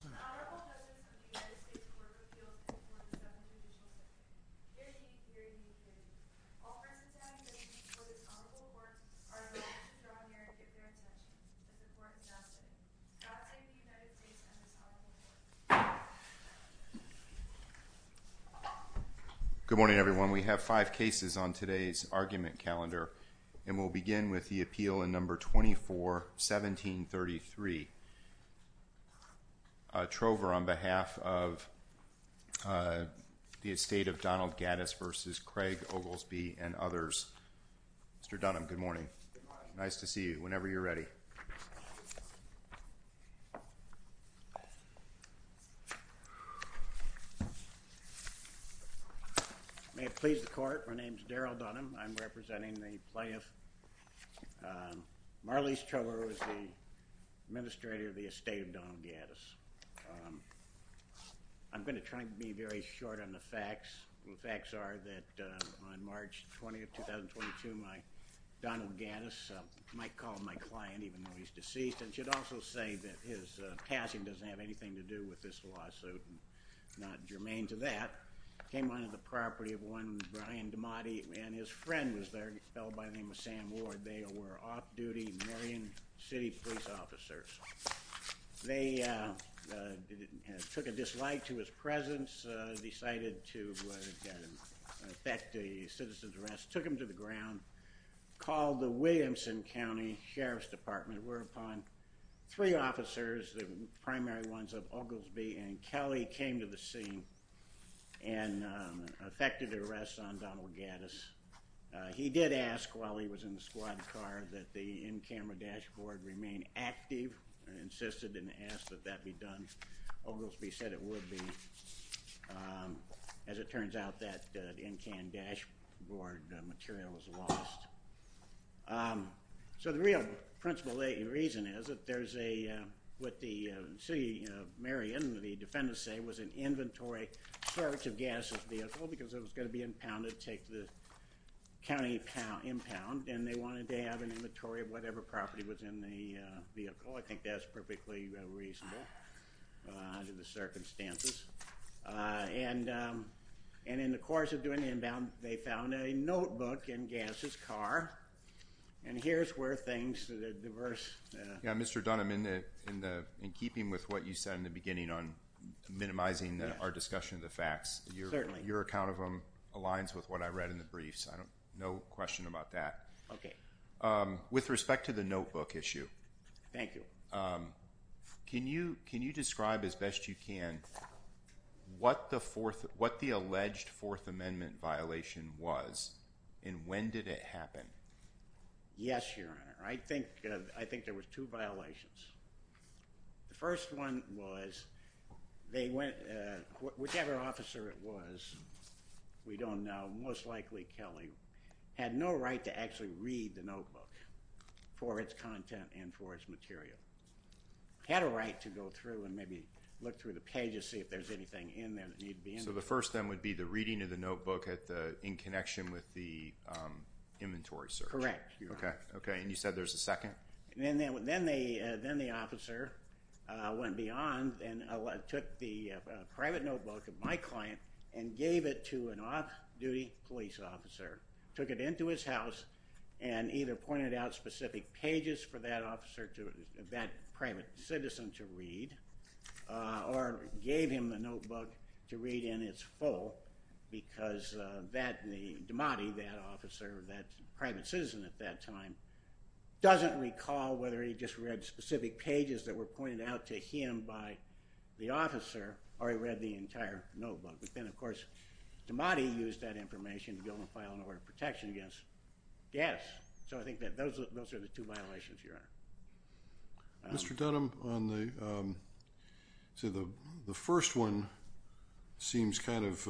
Honorable members of the United States Court of Appeals before the Deputy Attorney General, dearly, dearly, dearly, all friends and family members of the Honorable Court are invited to the honorarium at their home in the Court of Justice. God bless the United States and His Honorable Court. Good morning, everyone. We have five cases on today's argument calendar, and we'll begin with the appeal in number 24, 1733. Trover on behalf of the estate of Donald Gaddis v. Craig Oglesby and others. Mr. Dunham, good morning. Nice to see you whenever you're ready. May it please the Court, my name is Daryl Dunham. I'm representing the plaintiff. Marleis Trover is the administrator of the estate of Donald Gaddis. I'm going to try to be very short on the facts. The facts are that on March 20th, 2022, Donald Gaddis, I might call him my client even though he's deceased, and should also say that his passing doesn't have anything to do with this lawsuit, not germane to that, came onto the property of one Brian Damati, and his friend was there, a fellow by the name of Sam Ward. They were off-duty Marion City police officers. They took a dislike to his presence, decided to affect a citizen's rest, took him to the ground, called the Williamson County Sheriff's Department, and it were upon three officers, the primary ones of Oglesby and Kelly, came to the scene and effected an arrest on Donald Gaddis. He did ask while he was in the squad car that the in-camera dashboard remain active, and insisted and asked that that be done. Oglesby said it would be. As it turns out, that in-cam dashboard material was lost. So the real principle and reason is that there's a, what the city of Marion, the defendants say, was an inventory search of Gaddis' vehicle because it was going to be impounded, take the county impound, and they wanted to have an inventory of whatever property was in the vehicle. I think that's perfectly reasonable under the circumstances. And in the course of doing the impound, they found a notebook in Gaddis' car. And here's where things, the diverse. Yeah, Mr. Dunham, in keeping with what you said in the beginning on minimizing our discussion of the facts, your account of them aligns with what I read in the briefs. No question about that. Okay. With respect to the notebook issue. Thank you. Can you describe as best you can what the alleged Fourth Amendment violation was and when did it happen? Yes, Your Honor. I think there were two violations. The first one was they went, whichever officer it was, we don't know, had no right to actually read the notebook for its content and for its material. Had a right to go through and maybe look through the pages, see if there's anything in there that needed to be in there. So the first then would be the reading of the notebook in connection with the inventory search? Correct. Okay. And you said there's a second? Then the officer went beyond and took the private notebook of my client and gave it to an off-duty police officer, took it into his house and either pointed out specific pages for that officer, that private citizen to read or gave him the notebook to read in its full because that, the demotee, that officer, that private citizen at that time doesn't recall whether he just read specific pages that were pointed out to him by the officer or he read the entire notebook. But then, of course, demotee used that information to go and file an order of protection against. Yes. So I think that those are the two violations here. Mr. Dunham, on the, so the first one seems kind of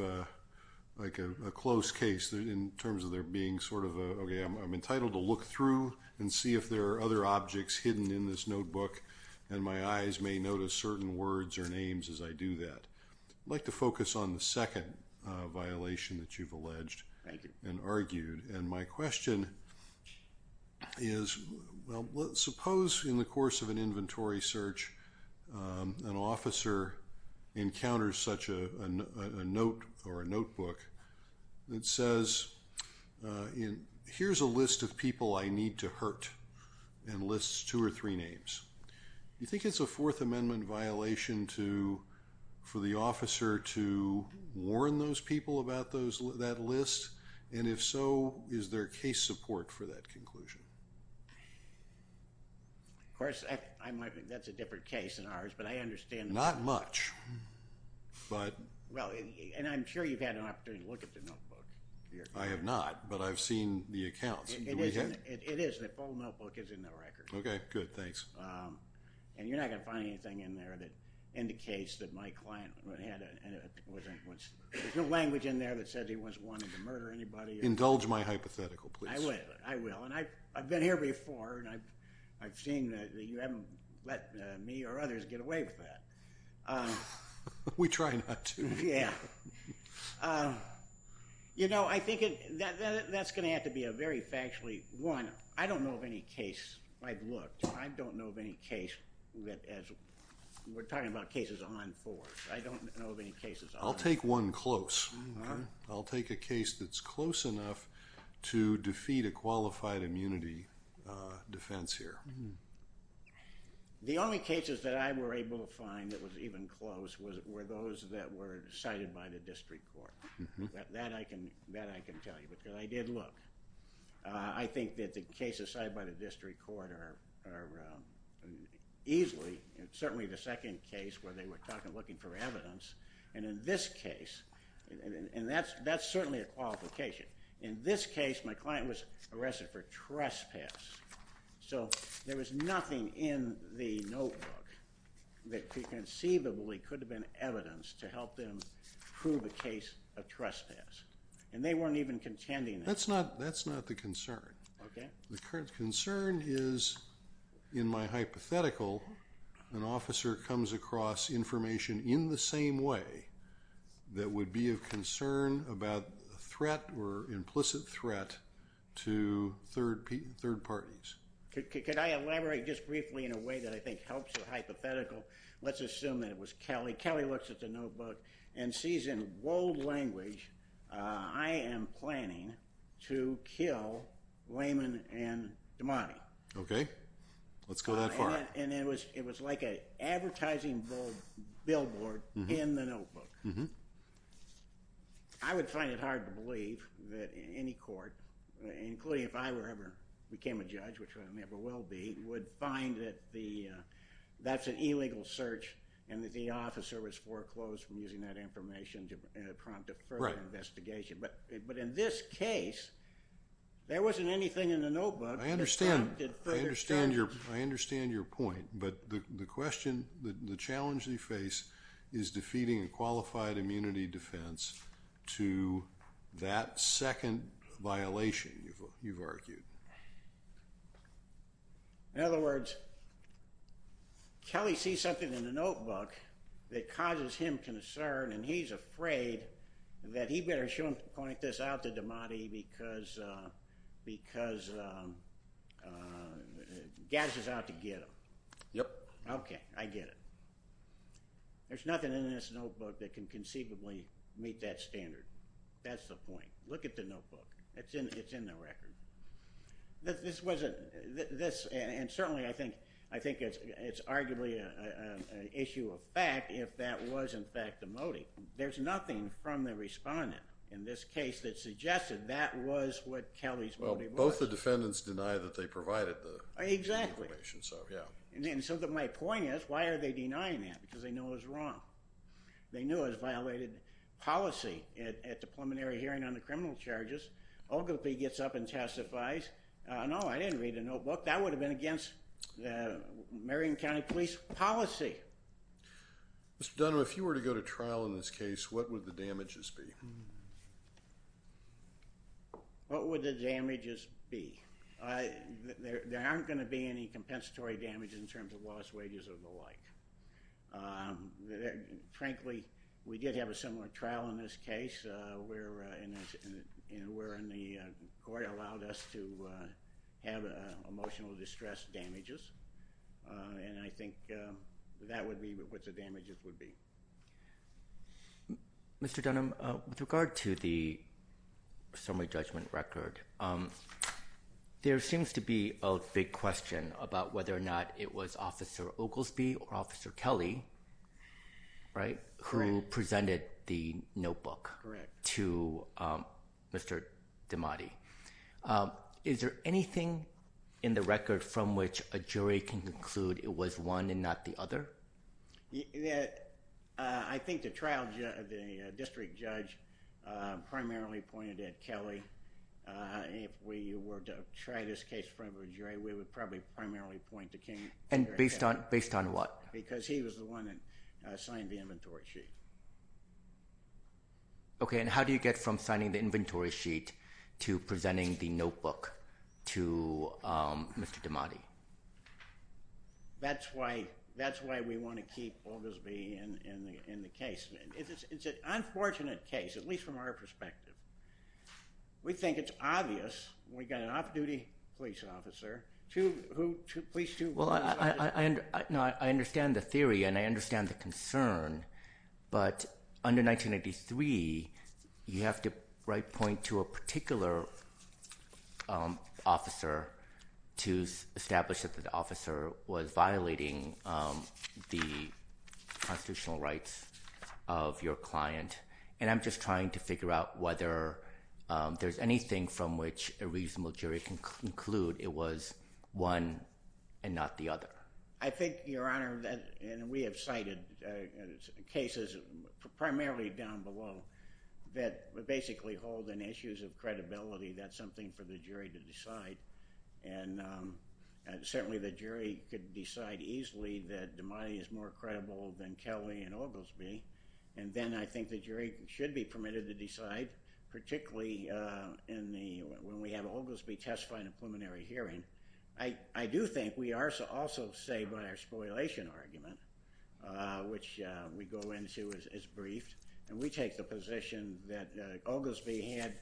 like a close case in terms of there being sort of a, okay, I'm entitled to look through and see if there are other objects hidden in this notebook and my eyes may notice certain words or names as I do that. I'd like to focus on the second violation that you've alleged and argued. And my question is, well, suppose in the course of an inventory search, an officer encounters such a note or a notebook that says, here's a list of people I need to hurt and lists two or three names. Do you think it's a Fourth Amendment violation for the officer to warn those people about that list? And if so, is there case support for that conclusion? Of course, I might think that's a different case than ours, but I understand. Not much, but. Well, and I'm sure you've had an opportunity to look at the notebook. I have not, but I've seen the accounts. It is, the full notebook is in the record. Okay, good, thanks. And you're not going to find anything in there that indicates that my client had, there's no language in there that says he once wanted to murder anybody. Indulge my hypothetical, please. I will, and I've been here before and I've seen that you haven't let me or others get away with that. We try not to. Yeah. You know, I think that's going to have to be a very factually. One, I don't know of any case I've looked. I don't know of any case, we're talking about cases on force. I don't know of any cases. I'll take one close. I'll take a case that's close enough to defeat a qualified immunity defense here. The only cases that I were able to find that was even close were those that were cited by the district court. That I can tell you, because I did look. I think that the cases cited by the district court are easily, certainly the second case where they were looking for evidence, and in this case, and that's certainly a qualification. In this case, my client was arrested for trespass. So there was nothing in the notebook that conceivably could have been evidence to help them prove a case of trespass. And they weren't even contending that. That's not the concern. Okay. The concern is, in my hypothetical, an officer comes across information in the same way that would be of concern about a threat or implicit threat to third parties. Could I elaborate just briefly in a way that I think helps the hypothetical? Let's assume that it was Kelly. Kelly looks at the notebook and sees in bold language, I am planning to kill Lehman and Damani. Okay. Let's go that far. And it was like an advertising billboard in the notebook. I would find it hard to believe that any court, including if I ever became a judge, which I never will be, would find that that's an illegal search and that the officer was foreclosed from using that information to prompt a further investigation. But in this case, there wasn't anything in the notebook that prompted further search. I understand your point. But the question, the challenge you face, is defeating a qualified immunity defense to that second violation, you've argued. In other words, Kelly sees something in the notebook that causes him concern, and he's afraid that he better point this out to Damani because Gaz is out to get him. Yep. Okay, I get it. There's nothing in this notebook that can conceivably meet that standard. That's the point. Look at the notebook. It's in the record. And certainly I think it's arguably an issue of fact if that was in fact the motive. There's nothing from the respondent in this case that suggested that was what Kelly's motive was. Well, both the defendants denied that they provided the information. And so my point is, why are they denying that? Because they know it was wrong. They knew it was a violated policy at the preliminary hearing on the criminal charges. Ogilvie gets up and testifies. No, I didn't read the notebook. That would have been against the Marion County Police policy. Mr. Dunham, if you were to go to trial in this case, what would the damages be? What would the damages be? There aren't going to be any compensatory damage in terms of lost wages or the like. Frankly, we did have a similar trial in this case where the court allowed us to have emotional distress damages, and I think that would be what the damages would be. Mr. Dunham, with regard to the summary judgment record, there seems to be a big question about whether or not it was Officer Ogilvie or Officer Kelly who presented the notebook to Mr. Damati. Is there anything in the record from which a jury can conclude it was one and not the other? I think the district judge primarily pointed at Kelly. If we were to try this case in front of a jury, we would probably primarily point to Kelly. And based on what? Because he was the one that signed the inventory sheet. Okay, and how do you get from signing the inventory sheet to presenting the notebook to Mr. Damati? That's why we want to keep Ogilvie in the case. It's an unfortunate case, at least from our perspective. We think it's obvious. We've got an off-duty police officer. I understand the theory and I understand the concern, but under 1983, you have to point to a particular officer to establish that the officer was violating the constitutional rights of your client. And I'm just trying to figure out whether there's anything from which a reasonable jury can conclude it was one and not the other. I think, Your Honor, and we have cited cases primarily down below that basically hold on issues of credibility. That's something for the jury to decide. And certainly the jury could decide easily that Damati is more credible than Kelly and Ogilvie. And then I think the jury should be permitted to decide, particularly when we have Ogilvie testified in a preliminary hearing. I do think we are also saved by our spoliation argument, which we go into as briefed. And we take the position that Ogilvie had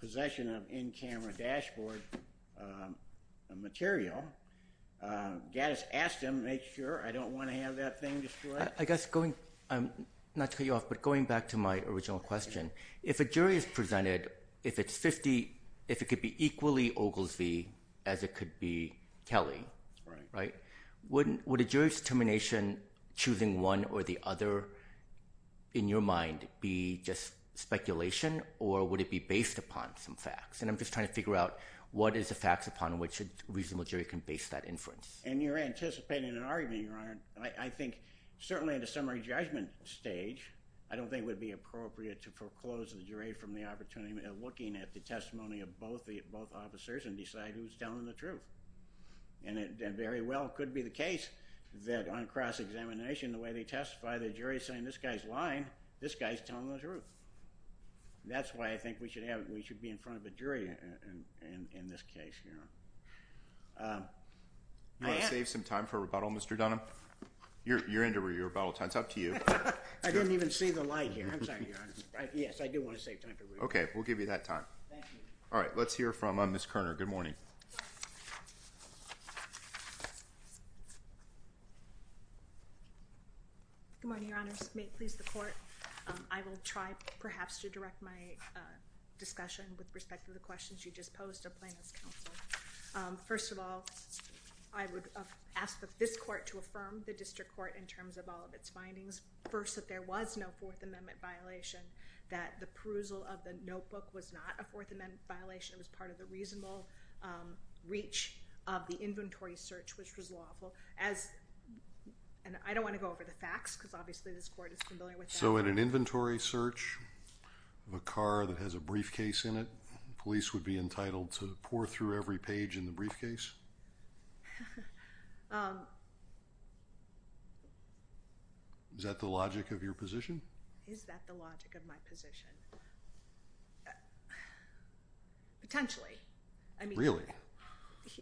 possession of in-camera dashboard material. Gaddis asked him to make sure. I don't want to have that thing destroyed. I guess, not to cut you off, but going back to my original question, if a jury is presented, if it's 50, if it could be equally Ogilvie as it could be Kelly, would a jury's determination choosing one or the other, in your mind, be just speculation? Or would it be based upon some facts? And I'm just trying to figure out what is the facts upon which a reasonable jury can base that inference. And you're anticipating an argument, Your Honor. I think, certainly at a summary judgment stage, I don't think it would be appropriate to foreclose the jury from the opportunity of looking at the testimony of both officers and decide who's telling the truth. And it very well could be the case that on cross-examination, the way they testify, the jury's saying, this guy's lying, this guy's telling the truth. That's why I think we should be in front of a jury in this case, Your Honor. You want to save some time for rebuttal, Mr. Dunham? You're into rebuttal time. It's up to you. I didn't even see the light here. I'm sorry, Your Honor. Yes, I do want to save time for rebuttal. Okay, we'll give you that time. Thank you. All right, let's hear from Ms. Kerner. Good morning. Good morning, Your Honors. May it please the Court, I will try, perhaps, to direct my discussion with respect to the questions you just posed to Plaintiffs' Counsel. First of all, I would ask that this Court to affirm the District Court in terms of all of its findings. First, that there was no Fourth Amendment violation, that the perusal of the notebook was not a Fourth Amendment violation. It was part of the reasonable reach of the inventory search, which was lawful. And I don't want to go over the facts, because obviously this Court is familiar with that. So in an inventory search of a car that has a briefcase in it, police would be entitled to pore through every page in the briefcase? Is that the logic of your position? Is that the logic of my position? Potentially.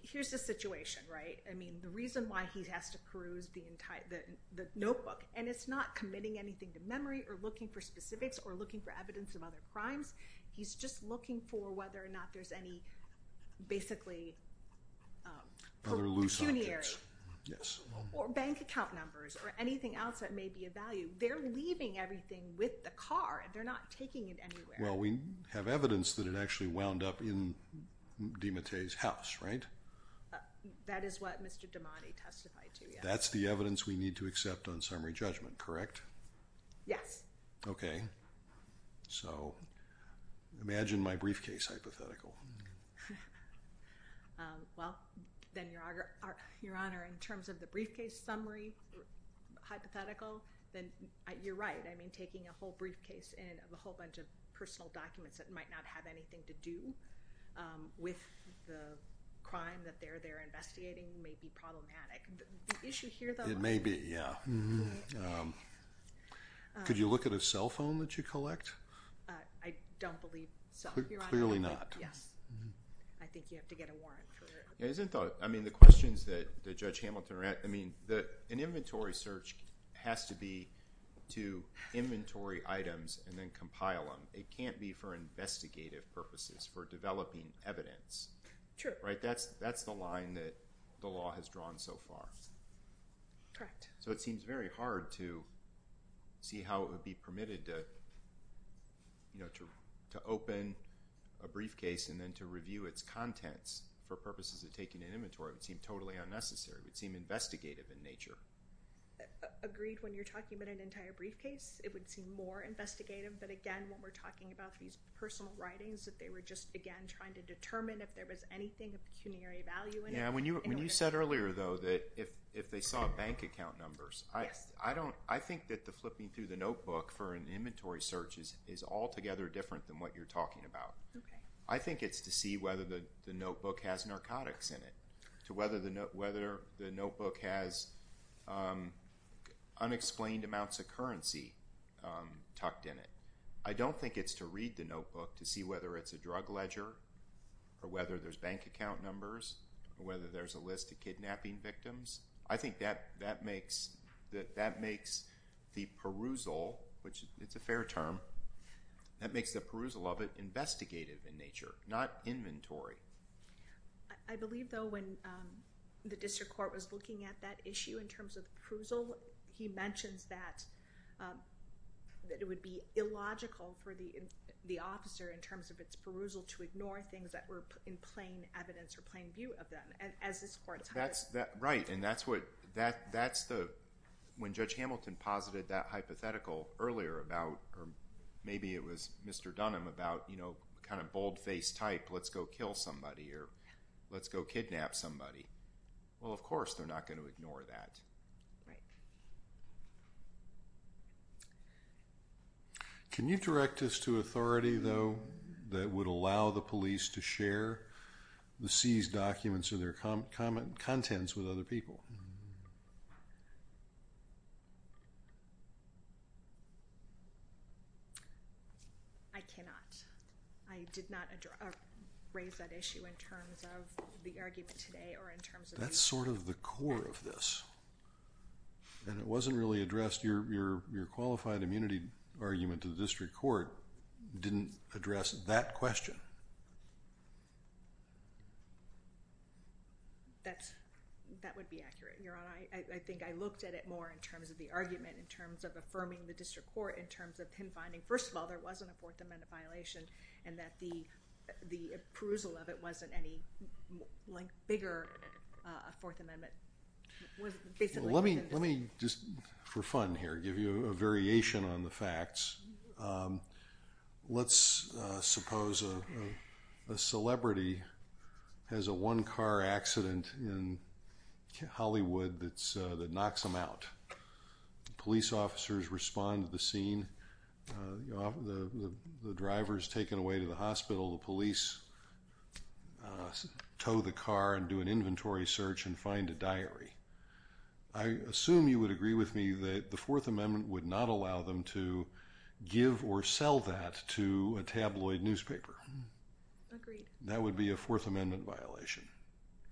Here's the situation, right? The reason why he has to peruse the notebook, and it's not committing anything to memory or looking for specifics or looking for evidence of other crimes. He's just looking for whether or not there's any basically pecuniary or bank account numbers or anything else that may be of value. They're leaving everything with the car. They're not taking it anywhere. Well, we have evidence that it actually wound up in DiMattei's house, right? That is what Mr. DiMattei testified to, yes. That's the evidence we need to accept on summary judgment, correct? Yes. Okay. So imagine my briefcase hypothetical. Well, then, Your Honor, in terms of the briefcase summary hypothetical, then you're right. I mean, taking a whole briefcase and a whole bunch of personal documents that might not have anything to do with the crime that they're investigating may be problematic. The issue here, though— It may be, yeah. Could you look at a cell phone that you collect? I don't believe so, Your Honor. Clearly not. Yes. I think you have to get a warrant for it. I mean, the questions that Judge Hamilton raised, I mean, an inventory search has to be to inventory items and then compile them. It can't be for investigative purposes, for developing evidence. True. Right? That's the line that the law has drawn so far. Correct. So it seems very hard to see how it would be permitted to open a briefcase and then to review its contents for purposes of taking an inventory. It would seem totally unnecessary. It would seem investigative in nature. Agreed. When you're talking about an entire briefcase, it would seem more investigative. But, again, when we're talking about these personal writings, that they were just, again, trying to determine if there was anything of pecuniary value in it. When you said earlier, though, that if they saw bank account numbers, I think that the flipping through the notebook for an inventory search is altogether different than what you're talking about. I think it's to see whether the notebook has narcotics in it, to whether the notebook has unexplained amounts of currency tucked in it. I don't think it's to read the notebook to see whether it's a drug ledger or whether there's bank account numbers or whether there's a list of kidnapping victims. I think that makes the perusal, which it's a fair term, that makes the perusal of it investigative in nature, not inventory. I believe, though, when the district court was looking at that issue in terms of perusal, he mentions that it would be illogical for the officer, in terms of its perusal, to ignore things that were in plain evidence or plain view of them, as this court's hired. Right. When Judge Hamilton posited that hypothetical earlier about, or maybe it was Mr. Dunham, about kind of bold-faced type, let's go kill somebody or let's go kidnap somebody, well, of course they're not going to ignore that. Right. Can you direct us to authority, though, that would allow the police to share the seized documents or their contents with other people? I cannot. I did not raise that issue in terms of the argument today or in terms of... That's sort of the core of this. It wasn't really addressed. Your qualified immunity argument to the district court didn't address that question. That would be accurate, Your Honor. I think I looked at it more in terms of the argument, in terms of affirming the district court, in terms of him finding, first of all, there wasn't a Fourth Amendment violation and that the appraisal of it wasn't any bigger Fourth Amendment. Let me just, for fun here, give you a variation on the facts. Let's suppose a celebrity has a one-car accident in Hollywood that knocks them out. Police officers respond to the scene. The driver is taken away to the hospital. The police tow the car and do an inventory search and find a diary. I assume you would agree with me that the Fourth Amendment would not allow them to give or sell that to a tabloid newspaper. Agreed. That would be a Fourth Amendment violation,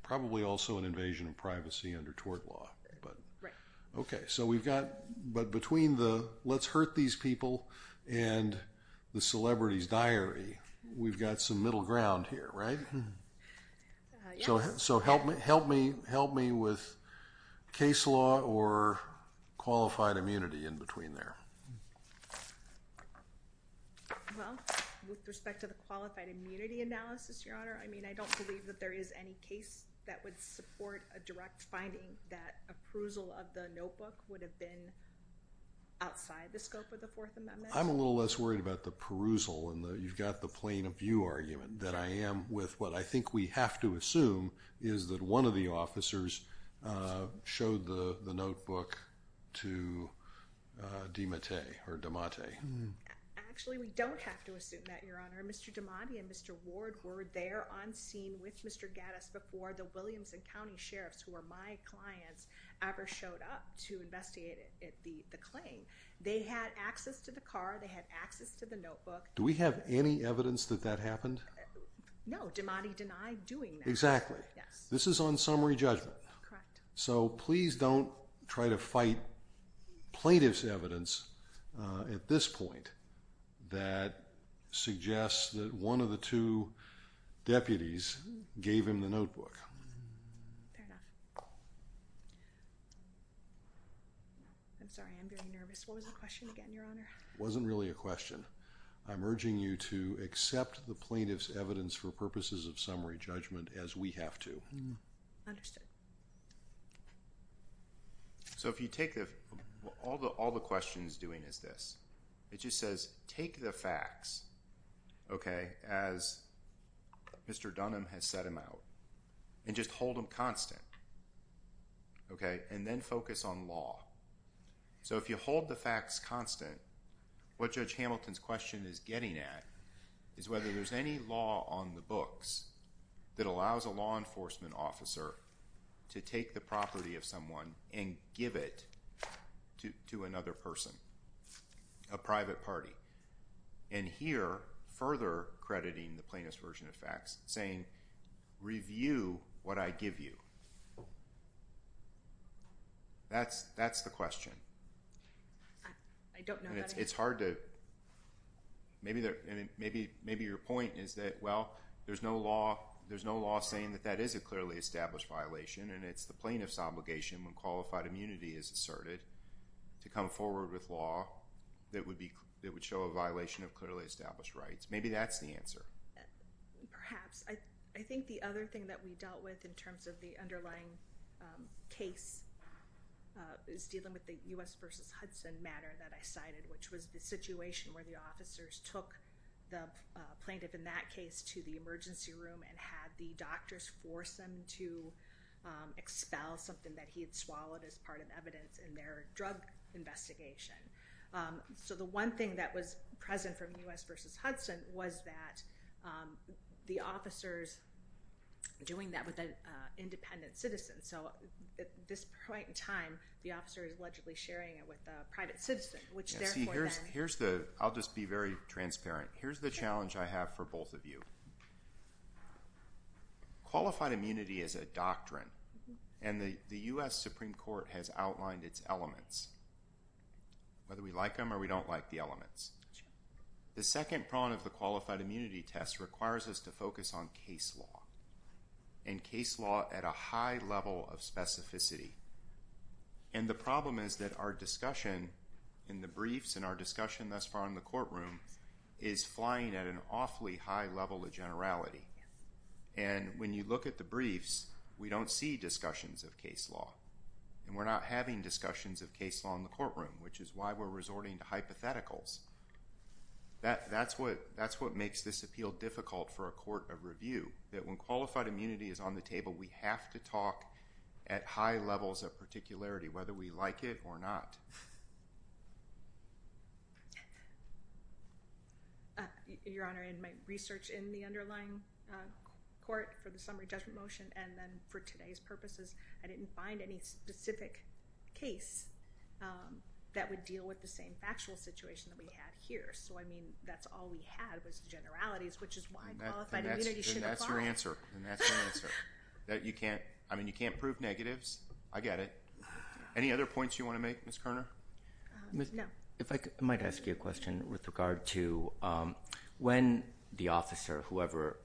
probably also an invasion of privacy under tort law. Right. Okay, so we've got, but between the let's hurt these people and the celebrity's diary, we've got some middle ground here, right? Yes. So help me with case law or qualified immunity in between there. Well, with respect to the qualified immunity analysis, Your Honor, I mean, I don't believe that there is any case that would support a direct finding that a perusal of the notebook would have been outside the scope of the Fourth Amendment. I'm a little less worried about the perusal. You've got the plain-of-view argument that I am with. What I think we have to assume is that one of the officers showed the notebook to DiMattei or DiMattei. Actually, we don't have to assume that, Your Honor. Mr. DiMattei and Mr. Ward were there on scene with Mr. Gaddis before the Williams County sheriffs, who are my clients, ever showed up to investigate the claim. They had access to the car. They had access to the notebook. Do we have any evidence that that happened? No, DiMattei denied doing that. Exactly. Yes. This is on summary judgment. Correct. So please don't try to fight plaintiff's evidence at this point that suggests that one of the two deputies gave him the notebook. Fair enough. I'm sorry. I'm getting nervous. What was the question again, Your Honor? It wasn't really a question. I'm urging you to accept the plaintiff's evidence for purposes of summary judgment as we have to. Understood. All the question is doing is this. It just says take the facts, as Mr. Dunham has set them out, and just hold them constant, and then focus on law. So if you hold the facts constant, what Judge Hamilton's question is getting at is whether there's any law on the books that allows a law enforcement officer to take the property of someone and give it to another person, a private party. And here, further crediting the plaintiff's version of facts, saying review what I give you. That's the question. I don't know that. It's hard to maybe your point is that, well, there's no law saying that that is a clearly established violation, and it's the plaintiff's obligation when qualified immunity is asserted to come forward with law that would show a violation of clearly established rights. Maybe that's the answer. Perhaps. I think the other thing that we dealt with in terms of the underlying case is dealing with the U.S. versus Hudson matter that I cited, which was the situation where the officers took the plaintiff in that case to the emergency room and had the doctors force him to expel something that he had swallowed as part of evidence in their drug investigation. So the one thing that was present from U.S. versus Hudson was that the officers doing that with an independent citizen. So at this point in time, the officer is allegedly sharing it with a private citizen, which therefore then- I'll just be very transparent. Here's the challenge I have for both of you. Qualified immunity is a doctrine, and the U.S. Supreme Court has outlined its elements, whether we like them or we don't like the elements. The second prong of the qualified immunity test requires us to focus on case law at a high level of specificity. And the problem is that our discussion in the briefs and our discussion thus far in the courtroom is flying at an awfully high level of generality. And when you look at the briefs, we don't see discussions of case law. And we're not having discussions of case law in the courtroom, which is why we're resorting to hypotheticals. That's what makes this appeal difficult for a court of review, that when qualified immunity is on the table, we have to talk at high levels of particularity, whether we like it or not. Your Honor, in my research in the underlying court for the summary judgment motion, and then for today's purposes, I didn't find any specific case that would deal with the same factual situation that we had here. So, I mean, that's all we had was generalities, which is why qualified immunity should apply. And that's your answer. I mean, you can't prove negatives. I get it. Any other points you want to make, Ms. Kerner? No. I might ask you a question with regard to when the officer,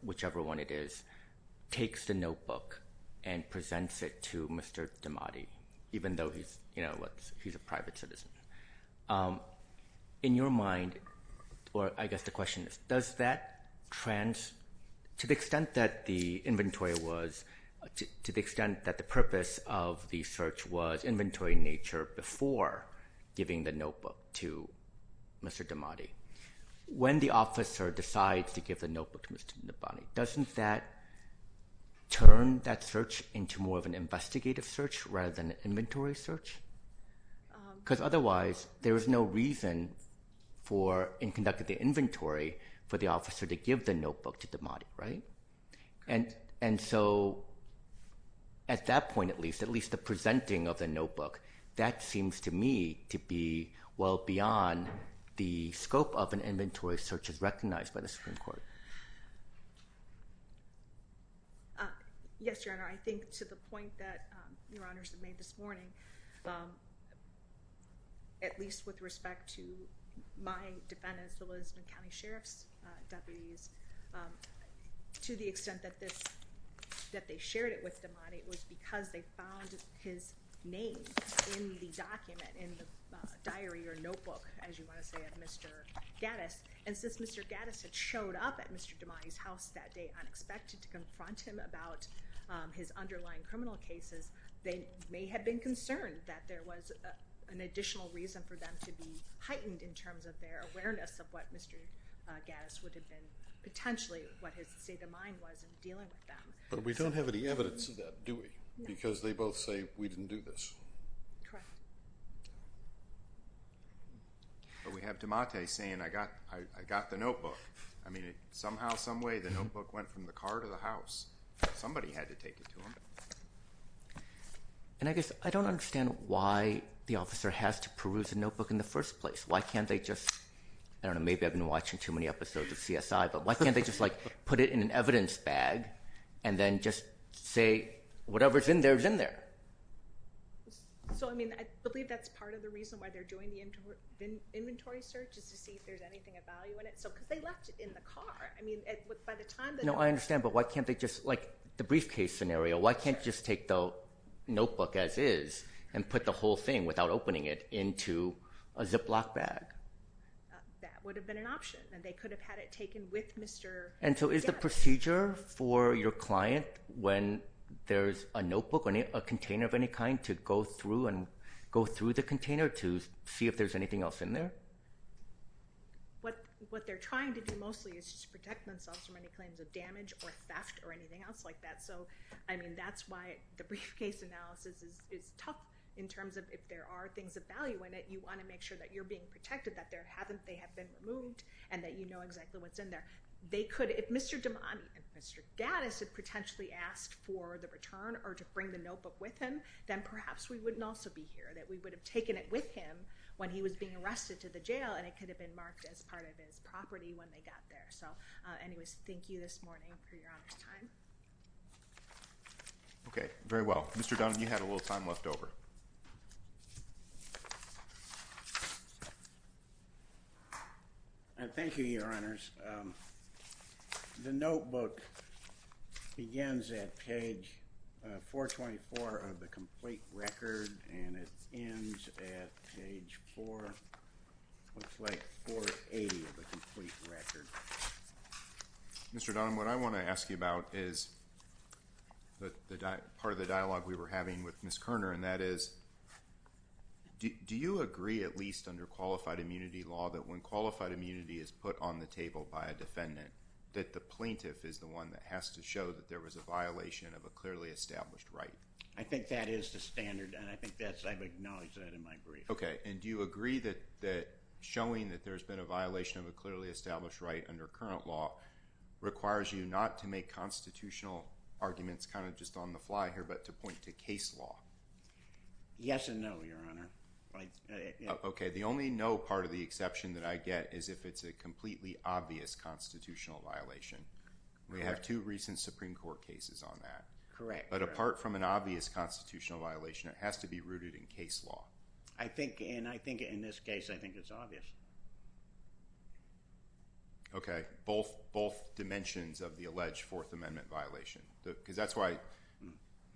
whichever one it is, takes the notebook and presents it to Mr. Damati, even though he's a private citizen. In your mind, or I guess the question is, does that trans, to the extent that the inventory was, to the extent that the purpose of the search was inventory in nature before giving the notebook to Mr. Damati, when the officer decides to give the notebook to Mr. Nabhani, doesn't that turn that search into more of an investigative search rather than an inventory search? Because otherwise there is no reason for, in conducting the inventory, for the officer to give the notebook to Damati, right? And so at that point at least, at least the presenting of the notebook, that seems to me to be well beyond the scope of an inventory search as recognized by the Supreme Court. Yes, Your Honor. I think to the point that Your Honors have made this morning, at least with respect to my defense, the Lisbon County Sheriff's deputies, to the extent that they shared it with Damati, it was because they found his name in the document, in the diary or notebook, as you want to say, of Mr. Gaddis. And since Mr. Gaddis had showed up at Mr. Damati's house that day and was not expected to confront him about his underlying criminal cases, they may have been concerned that there was an additional reason for them to be heightened in terms of their awareness of what Mr. Gaddis would have been potentially, what his state of mind was in dealing with them. But we don't have any evidence of that, do we? No. Because they both say, we didn't do this. Correct. But we have Damati saying, I got the notebook. Somehow, some way, the notebook went from the car to the house. Somebody had to take it to him. And I guess I don't understand why the officer has to peruse a notebook in the first place. Why can't they just, I don't know, maybe I've been watching too many episodes of CSI, but why can't they just put it in an evidence bag and then just say, whatever's in there is in there? I believe that's part of the reason why they're doing the inventory search is to see if there's anything of value in it. Because they left it in the car. I understand, but why can't they just, like the briefcase scenario, why can't they just take the notebook as is and put the whole thing without opening it into a Ziploc bag? That would have been an option, and they could have had it taken with Mr. Gaddis. And so is the procedure for your client when there's a notebook, a container of any kind, to go through the container to see if there's anything else in there? What they're trying to do mostly is just protect themselves from any claims of damage or theft or anything else like that. So, I mean, that's why the briefcase analysis is tough in terms of if there are things of value in it, you want to make sure that you're being protected, that they have been removed, and that you know exactly what's in there. If Mr. Damani and Mr. Gaddis had potentially asked for the return or to bring the notebook with him, then perhaps we wouldn't also be here, that we would have taken it with him when he was being arrested to the jail, and it could have been marked as part of his property when they got there. So, anyways, thank you this morning for your honor's time. Okay, very well. Mr. Dunn, you had a little time left over. Thank you, Your Honors. The notebook begins at page 424 of the complete record, and it ends at page 4, looks like 480 of the complete record. Mr. Dunn, what I want to ask you about is part of the dialogue we were having with Ms. Kerner, and that is, do you agree, at least under qualified immunity law, that when qualified immunity is put on the table by a defendant, that the plaintiff is the one that has to show that there was a violation of a clearly established right? I think that is the standard, and I think I've acknowledged that in my brief. Okay, and do you agree that showing that there's been a violation of a clearly established right under current law requires you not to make constitutional arguments kind of just on the fly here, but to point to case law? Yes and no, Your Honor. Okay, the only no part of the exception that I get is if it's a completely obvious constitutional violation. We have two recent Supreme Court cases on that. Correct. But apart from an obvious constitutional violation, it has to be rooted in case law. I think, and I think in this case, I think it's obvious. Okay, both dimensions of the alleged Fourth Amendment violation, because that's why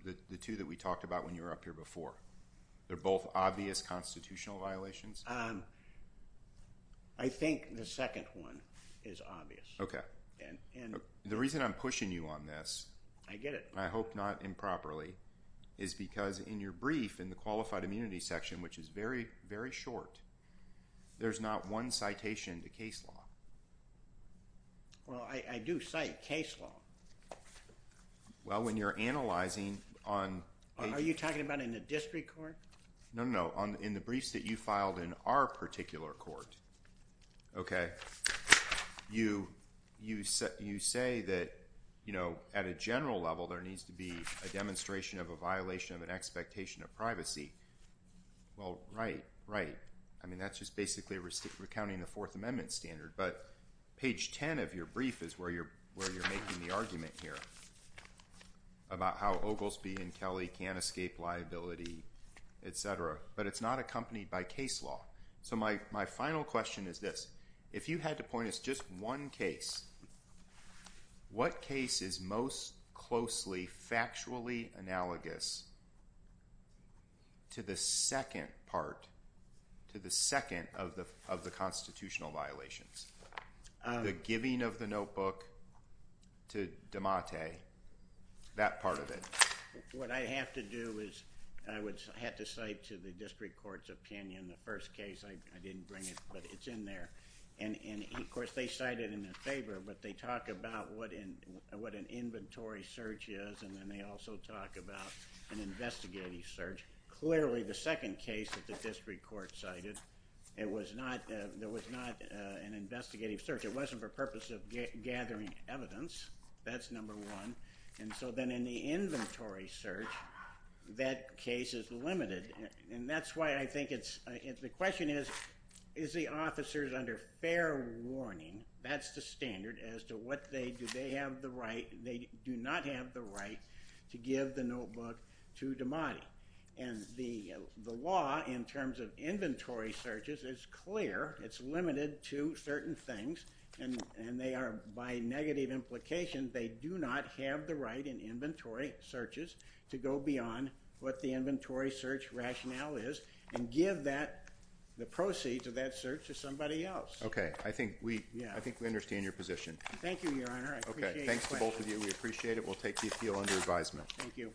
the two that we talked about when you were up here before, they're both obvious constitutional violations? I think the second one is obvious. Okay. The reason I'm pushing you on this... I get it. I hope not improperly, is because in your brief in the Qualified Immunity section, which is very, very short, there's not one citation to case law. Well, I do cite case law. Well, when you're analyzing on... Are you talking about in the district court? No, no, no. In the briefs that you filed in our particular court, okay, you say that, you know, at a general level, there needs to be a demonstration of a violation of an expectation of privacy. Well, right, right. I mean, that's just basically recounting the Fourth Amendment standard, but page 10 of your brief is where you're making the argument here about how Oglesby and Kelly can't escape liability, et cetera, but it's not accompanied by case law. So my final question is this. If you had to point us just one case, what case is most closely, factually analogous to the second part, to the second of the constitutional violations? The giving of the notebook to DeMatte, that part of it. What I have to do is I would have to cite to the district courts opinion the first case. I didn't bring it, but it's in there. And, of course, they cite it in their favor, but they talk about what an inventory search is, and then they also talk about an investigative search. Clearly, the second case that the district court cited, it was not an investigative search. It wasn't for purpose of gathering evidence. That's number one. And so then in the inventory search, that case is limited. And that's why I think it's... The question is, is the officers under fair warning? That's the standard as to what they, do they have the right, they do not have the right to give the notebook to DeMatte. And the law, in terms of inventory searches, is clear. It's limited to certain things, and they are, by negative implications, they do not have the right in inventory searches to go beyond what the inventory search rationale is and give the proceed to that search to somebody else. Okay. I think we understand your position. Thank you, Your Honor. I appreciate the question. Okay. Thanks to both of you. We appreciate it. We'll take the appeal under advisement. Thank you.